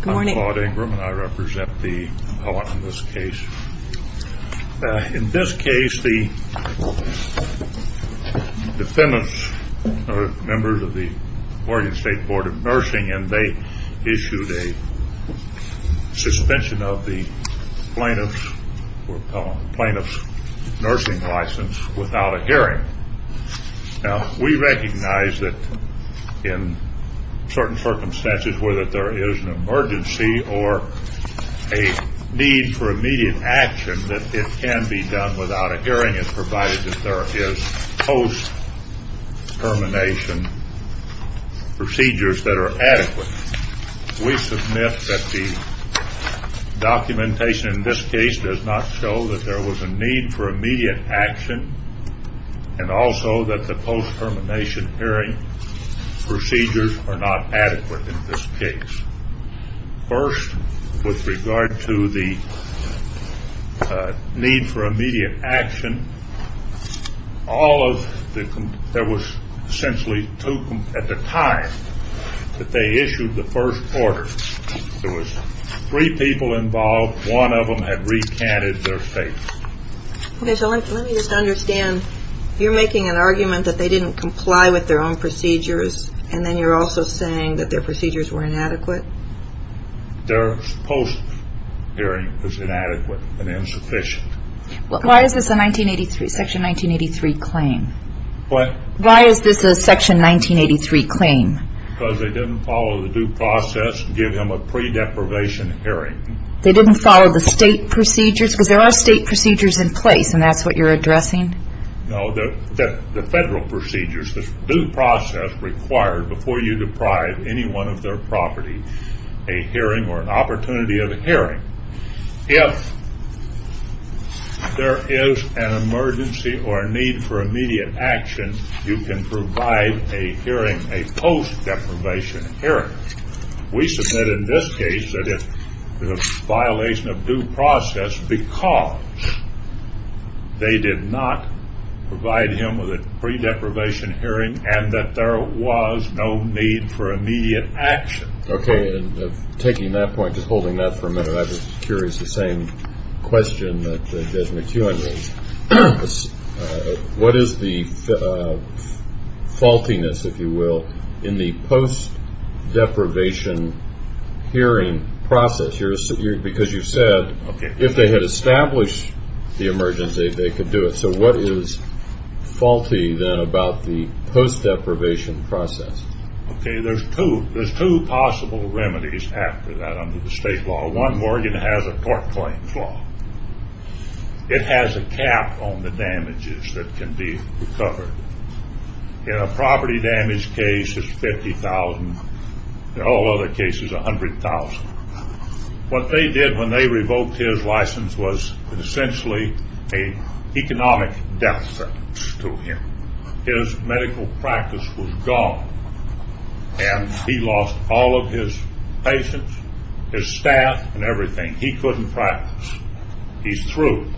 Good morning. I'm Claude Ingram and I represent the appellant in this case. In this case, the defendants are members of the Oregon State Board of Nursing and they issued a suspension of the plaintiff's nursing license without a hearing. Now, we recognize that in certain circumstances, whether there is an emergency or a need for immediate action, that it can be done without a hearing as provided that there is post-termination procedures that are adequate. We submit that the documentation in this case does not show that there was a need for immediate action and also that the post-termination hearing procedures are not adequate in this case. First, with regard to the need for immediate action, there was essentially two at the time that they issued the first order. There was three people involved. One of them had recanted their state. Okay, so let me just understand. You're making an argument that they didn't comply with their own procedures and then you're also saying that their procedures were inadequate? Their post-hearing was inadequate and insufficient. Why is this a Section 1983 claim? What? Why is this a Section 1983 claim? Because they didn't follow the due process to give him a pre-deprivation hearing. They didn't follow the state procedures? Because there are state procedures in place and that's what you're addressing? No, the federal procedures, the due process required before you deprive anyone of their property a hearing or an opportunity of a hearing. If there is an emergency or a need for immediate action, you can provide a hearing, a post-deprivation hearing. We submit in this case that it's a violation of due process because they did not provide him with a pre-deprivation hearing and that there was no need for immediate action. Okay, and taking that point, just holding that for a minute, I'm just curious, the same question that Desmond Kuhn raised. What is the faultiness, if you will, in the post-deprivation hearing process? Because you said if they had established the emergency, they could do it. So what is faulty then about the post-deprivation process? Okay, there's two possible remedies after that under the state law. One, Morgan has a tort claims law. It has a cap on the damages that can be recovered. In a property damage case, it's $50,000. In all other cases, $100,000. What they did when they revoked his license was essentially an economic deficit to him. His medical practice was gone and he lost all of his patients, his staff, and everything. He couldn't practice. He's through.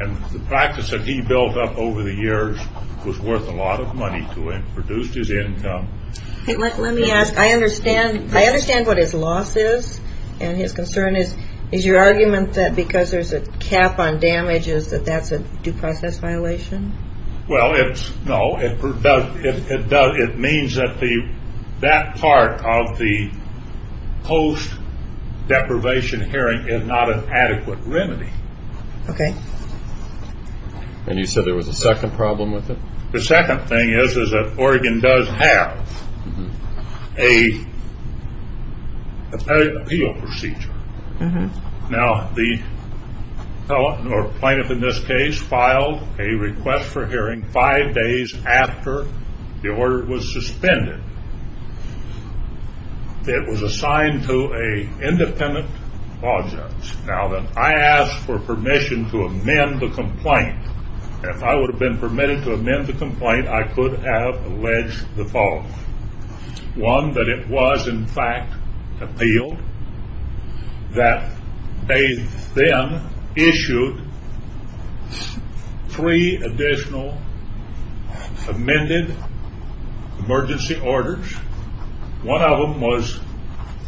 And the practice that he built up over the years was worth a lot of money to him, reduced his income. Let me ask, I understand what his loss is and his concern is. Is your argument that because there's a cap on damages that that's a due process violation? Well, no. It means that that part of the post-deprivation hearing is not an adequate remedy. Okay. And you said there was a second problem with it? The second thing is that Oregon does have an appeal procedure. Now, the plaintiff in this case filed a request for hearing five days after the order was suspended. It was assigned to an independent law judge. Now, I asked for permission to amend the complaint. If I would have been permitted to amend the complaint, I could have alleged the following. One, that it was, in fact, appealed. That they then issued three additional amended emergency orders. One of them was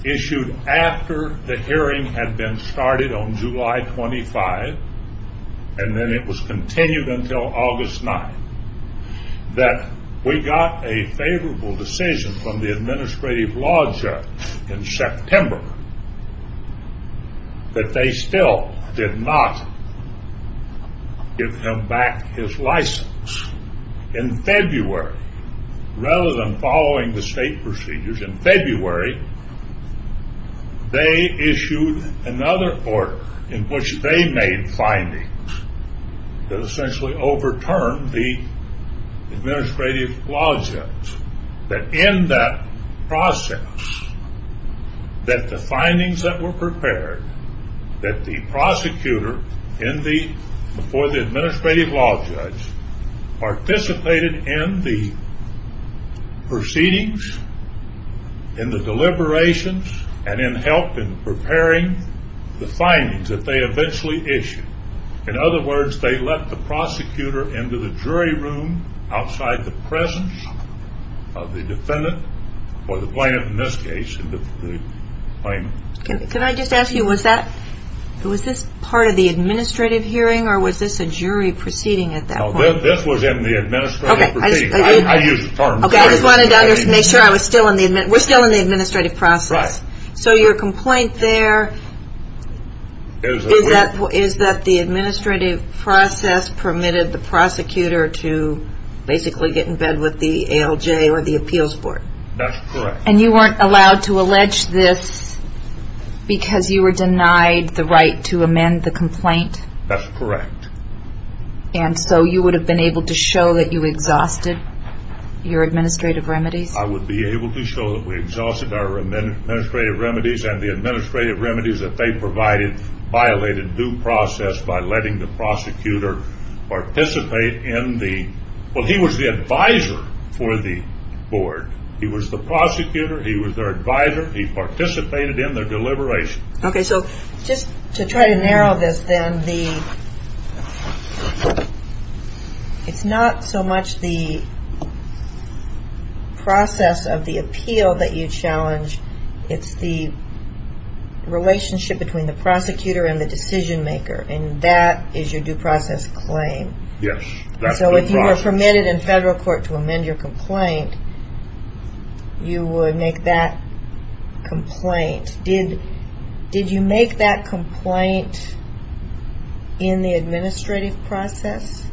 issued after the hearing had been started on July 25, and then it was continued until August 9. That we got a favorable decision from the administrative law judge in September. That they still did not give him back his license. In February, rather than following the state procedures, in February, they issued another order in which they made findings that essentially overturned the administrative law judge. That in that process, that the findings that were prepared, that the prosecutor, before the administrative law judge, participated in the proceedings, in the deliberations, and in helping preparing the findings that they eventually issued. In other words, they let the prosecutor into the jury room outside the presence of the defendant, or the plaintiff in this case, in the claimant. Can I just ask you, was this part of the administrative hearing, or was this a jury proceeding at that point? No, this was in the administrative proceedings. Okay, I just wanted to make sure we're still in the administrative process. So your complaint there is that the administrative process permitted the prosecutor to basically get in bed with the ALJ or the appeals board. That's correct. And you weren't allowed to allege this because you were denied the right to amend the complaint? That's correct. And so you would have been able to show that you exhausted your administrative remedies? I would be able to show that we exhausted our administrative remedies, and the administrative remedies that they provided violated due process by letting the prosecutor participate in the, well, he was the advisor for the board. He was the prosecutor. He was their advisor. He participated in their deliberation. Okay, so just to try to narrow this down, it's not so much the process of the appeal that you challenge. It's the relationship between the prosecutor and the decision maker, and that is your due process claim. Yes. So if you were permitted in federal court to amend your complaint, you would make that complaint. Did you make that complaint in the administrative process?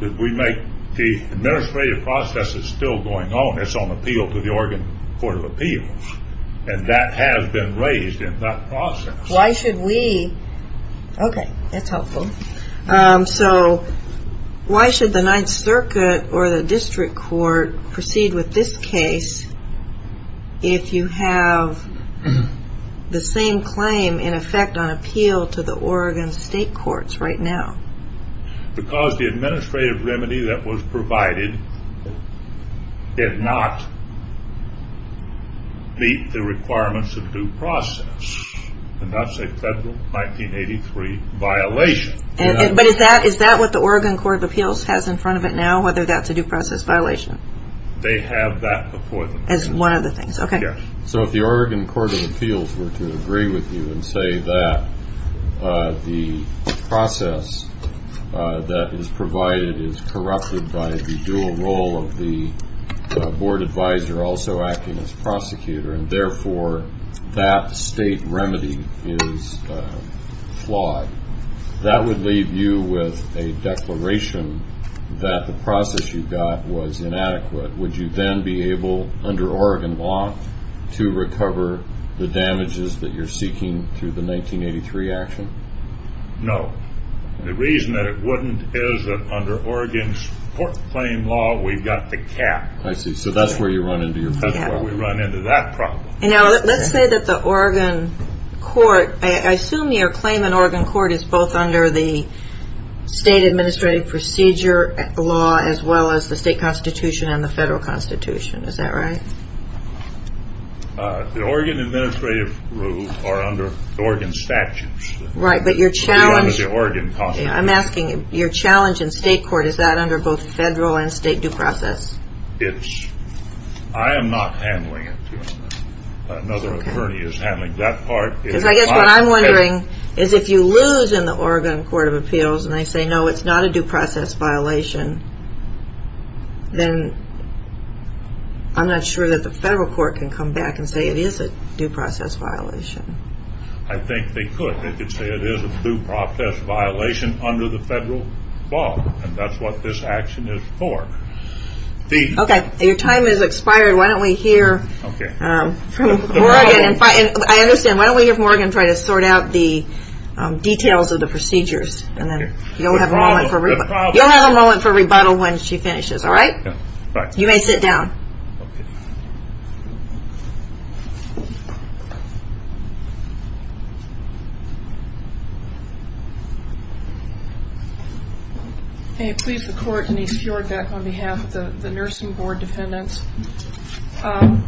The administrative process is still going on. It's on appeal to the Oregon Court of Appeals, and that has been raised in that process. Why should we? Okay, that's helpful. So why should the Ninth Circuit or the district court proceed with this case if you have the same claim in effect on appeal to the Oregon State Courts right now? Because the administrative remedy that was provided did not meet the requirements of due process, and that's a federal 1983 violation. But is that what the Oregon Court of Appeals has in front of it now, whether that's a due process violation? They have that before them. As one of the things. Yes. So if the Oregon Court of Appeals were to agree with you and say that the process that is provided is corrupted by the dual role of the board advisor also acting as prosecutor, and therefore that state remedy is flawed, that would leave you with a declaration that the process you got was inadequate. Would you then be able, under Oregon law, to recover the damages that you're seeking through the 1983 action? No. The reason that it wouldn't is that under Oregon's court claim law, we've got the cap. I see. So that's where you run into your problem. That's where we run into that problem. Now, let's say that the Oregon court, I assume your claim in Oregon court is both under the state administrative procedure law as well as the state constitution and the federal constitution. Is that right? The Oregon administrative rules are under Oregon statutes. Right, but your challenge in state court, is that under both federal and state due process? I am not handling it. Another attorney is handling that part. Because I guess what I'm wondering is if you lose in the Oregon Court of Appeals and they say no, it's not a due process violation, then I'm not sure that the federal court can come back and say it is a due process violation. I think they could. They could say it is a due process violation under the federal law. And that's what this action is for. Okay. Your time has expired. Why don't we hear from Oregon. I understand. Why don't we hear from Oregon and try to sort out the details of the procedures. You'll have a moment for rebuttal when she finishes. All right? You may sit down. Okay. May it please the court, Denise Fjordback on behalf of the nursing board defendants. I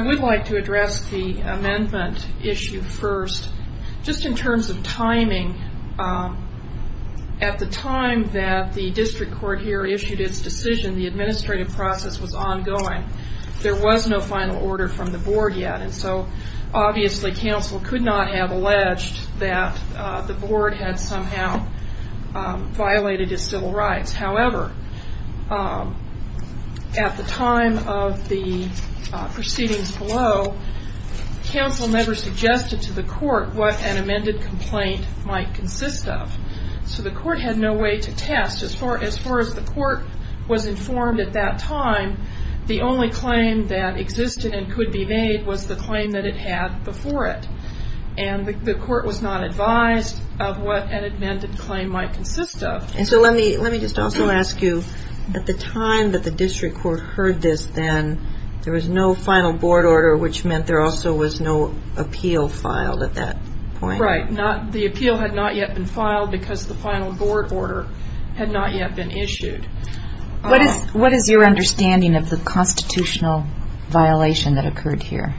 would like to address the amendment issue first. Just in terms of timing, at the time that the district court here issued its decision, the administrative process was ongoing. There was no final order from the board yet. And so obviously counsel could not have alleged that the board had somehow violated its civil rights. However, at the time of the proceedings below, counsel never suggested to the court what an amended complaint might consist of. So the court had no way to test. As far as the court was informed at that time, the only claim that existed and could be made was the claim that it had before it. And the court was not advised of what an amended claim might consist of. And so let me just also ask you, at the time that the district court heard this then, there was no final board order, which meant there also was no appeal filed at that point. Right. The appeal had not yet been filed because the final board order had not yet been issued. What is your understanding of the constitutional violation that occurred here?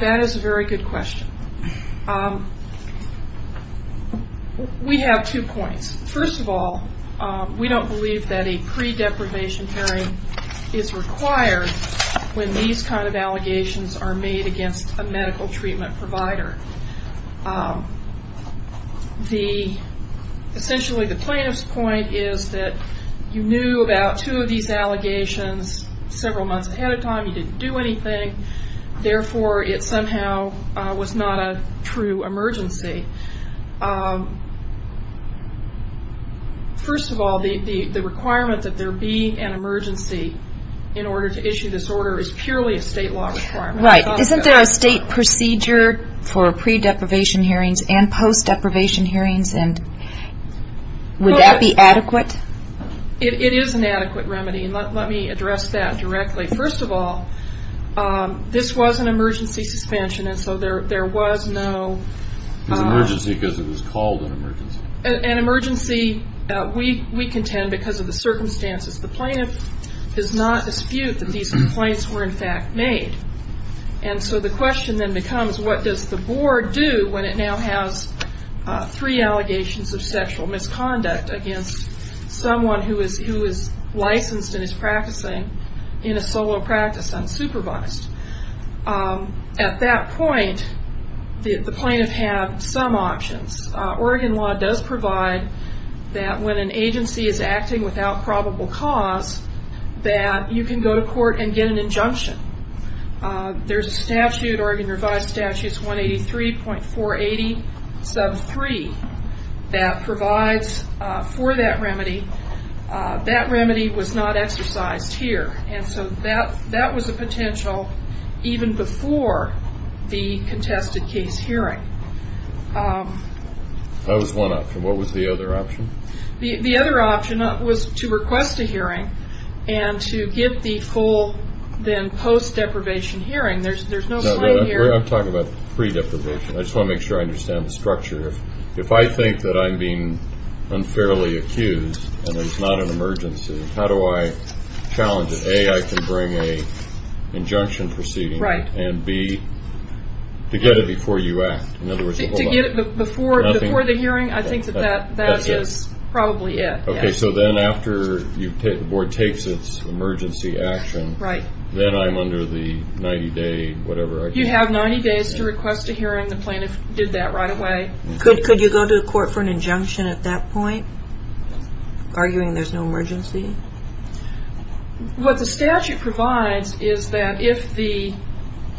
That is a very good question. We have two points. First of all, we don't believe that a pre-deprivation hearing is required when these kind of allegations are made against a medical treatment provider. Essentially, the plaintiff's point is that you knew about two of these allegations several months ahead of time. You didn't do anything. Therefore, it somehow was not a true emergency. First of all, the requirement that there be an emergency in order to issue this order is purely a state law requirement. Right. Isn't there a state procedure for pre-deprivation hearings and post-deprivation hearings? Would that be adequate? It is an adequate remedy, and let me address that directly. First of all, this was an emergency suspension, and so there was no- It was an emergency because it was called an emergency. An emergency, we contend, because of the circumstances. The plaintiff does not dispute that these complaints were, in fact, made. So the question then becomes what does the board do when it now has three allegations of sexual misconduct against someone who is licensed and is practicing in a solo practice unsupervised? At that point, the plaintiff had some options. Oregon law does provide that when an agency is acting without probable cause, that you can go to court and get an injunction. There's a statute, Oregon Revised Statutes 183.480 sub 3, that provides for that remedy. That remedy was not exercised here, and so that was a potential even before the contested case hearing. That was one option. What was the other option? The other option was to request a hearing and to get the full then post-deprivation hearing. There's no claim here. I'm talking about pre-deprivation. I just want to make sure I understand the structure. If I think that I'm being unfairly accused and it's not an emergency, how do I challenge it? A, I can bring an injunction proceeding, and B, to get it before you act. Before the hearing, I think that that is probably it. Okay, so then after the board takes its emergency action, then I'm under the 90-day whatever. You have 90 days to request a hearing. The plaintiff did that right away. Could you go to court for an injunction at that point, arguing there's no emergency? What the statute provides is that if the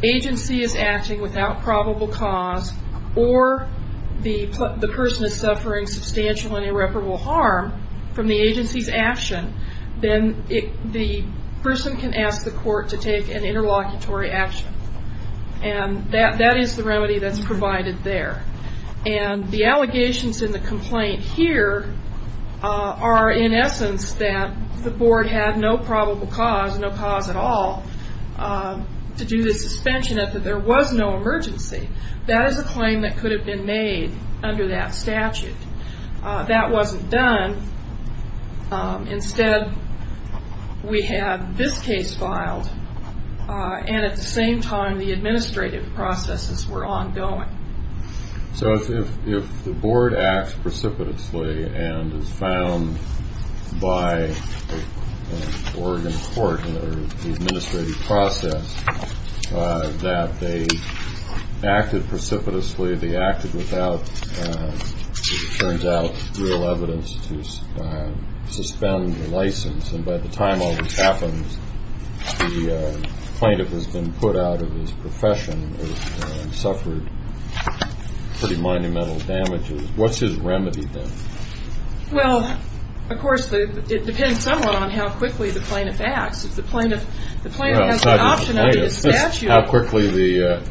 agency is acting without probable cause or the person is suffering substantial and irreparable harm from the agency's action, then the person can ask the court to take an interlocutory action. That is the remedy that's provided there. The allegations in the complaint here are, in essence, that the board had no probable cause, no cause at all to do the suspension of it, that there was no emergency. That is a claim that could have been made under that statute. That wasn't done. Instead, we had this case filed, and at the same time, the administrative processes were ongoing. So if the board acts precipitously and is found by an Oregon court or the administrative process that they acted precipitously, they acted without, as it turns out, real evidence to suspend the license. And by the time all this happens, the plaintiff has been put out of his profession and suffered pretty monumental damages. What's his remedy then? Well, of course, it depends somewhat on how quickly the plaintiff acts. If the plaintiff has the option of the statute. How quickly the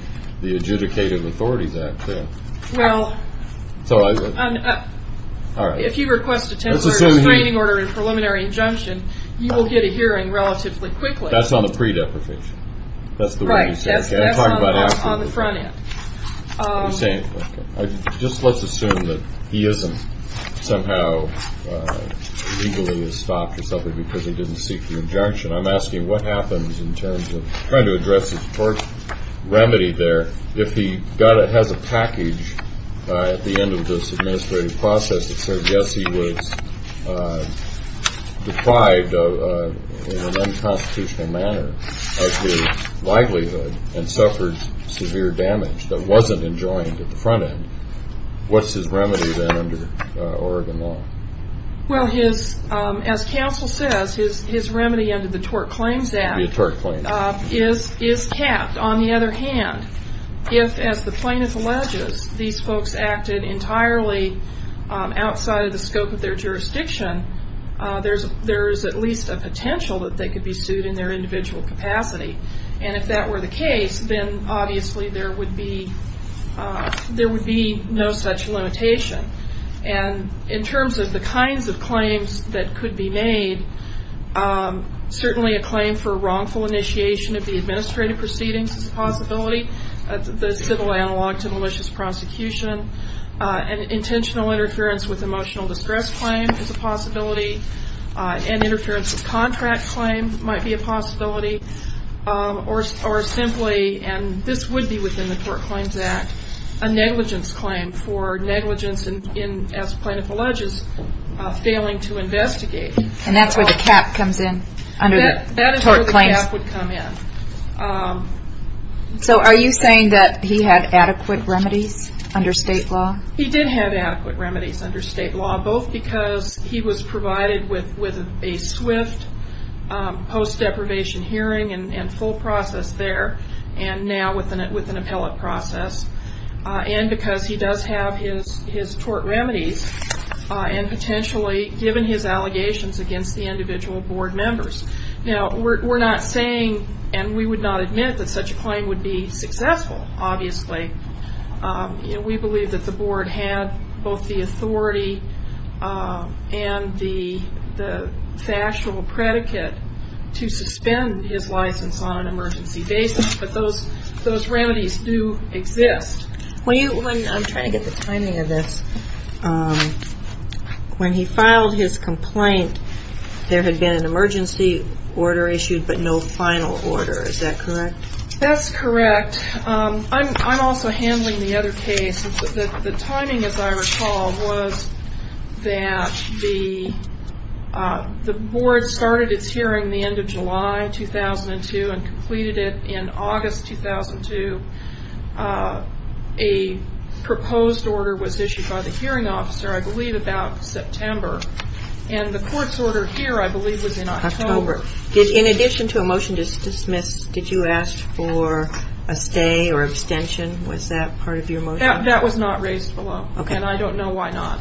adjudicated authorities act, too. Well, if you request a temporary restraining order and preliminary injunction, you will get a hearing relatively quickly. That's on the pre-deprecation. That's the way you say it. Right, that's on the front end. Just let's assume that he isn't somehow legally stopped or something because he didn't seek the injunction. I'm asking what happens in terms of trying to address his first remedy there. If he has a package at the end of this administrative process that says, yes, he was deprived in an unconstitutional manner of his livelihood and suffered severe damage that wasn't enjoined at the front end. What's his remedy then under Oregon law? Well, as counsel says, his remedy under the tort claims act is capped. On the other hand, if, as the plaintiff alleges, these folks acted entirely outside of the scope of their jurisdiction, there is at least a potential that they could be sued in their individual capacity. And if that were the case, then obviously there would be no such limitation. And in terms of the kinds of claims that could be made, certainly a claim for wrongful initiation of the administrative proceedings is a possibility. The civil analog to malicious prosecution. An intentional interference with emotional distress claim is a possibility. An interference with contract claim might be a possibility. Or simply, and this would be within the tort claims act, a negligence claim for negligence in, as the plaintiff alleges, failing to investigate. And that's where the cap comes in under the tort claims. That is where the cap would come in. So are you saying that he had adequate remedies under state law? He did have adequate remedies under state law, both because he was provided with a swift post-deprivation hearing and full process there, and now with an appellate process, and because he does have his tort remedies and potentially given his allegations against the individual board members. Now, we're not saying, and we would not admit that such a claim would be successful, obviously. We believe that the board had both the authority and the factual predicate to suspend his license on an emergency basis. But those remedies do exist. I'm trying to get the timing of this. When he filed his complaint, there had been an emergency order issued, but no final order. Is that correct? That's correct. I'm also handling the other case. The timing, as I recall, was that the board started its hearing the end of July 2002 and completed it in August 2002. A proposed order was issued by the hearing officer, I believe about September. And the court's order here, I believe, was in October. In addition to a motion to dismiss, did you ask for a stay or extension? Was that part of your motion? That was not raised below, and I don't know why not,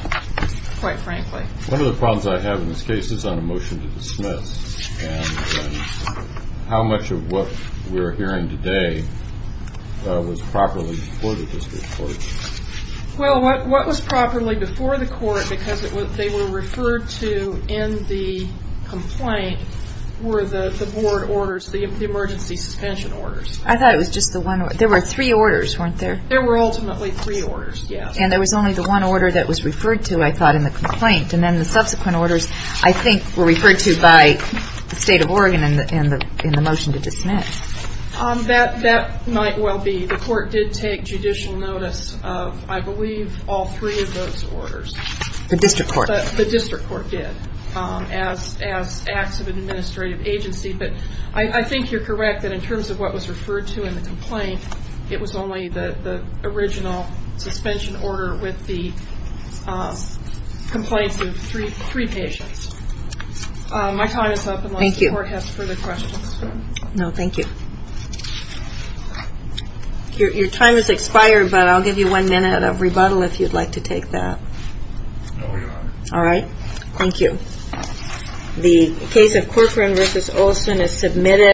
quite frankly. One of the problems I have in this case is on a motion to dismiss. And how much of what we're hearing today was properly before the district court? Well, what was properly before the court, because they were referred to in the complaint, were the board orders, the emergency suspension orders. I thought it was just the one. There were three orders, weren't there? There were ultimately three orders, yes. And there was only the one order that was referred to, I thought, in the complaint. And then the subsequent orders, I think, were referred to by the State of Oregon in the motion to dismiss. That might well be. The court did take judicial notice of, I believe, all three of those orders. The district court. The district court did, as acts of an administrative agency. But I think you're correct that in terms of what was referred to in the complaint, it was only the original suspension order with the complaints of three patients. My time is up. Thank you. Unless the court has further questions. No, thank you. Your time has expired, but I'll give you one minute of rebuttal if you'd like to take that. No, Your Honor. All right. Thank you. The case of Corcoran v. Olson is submitted.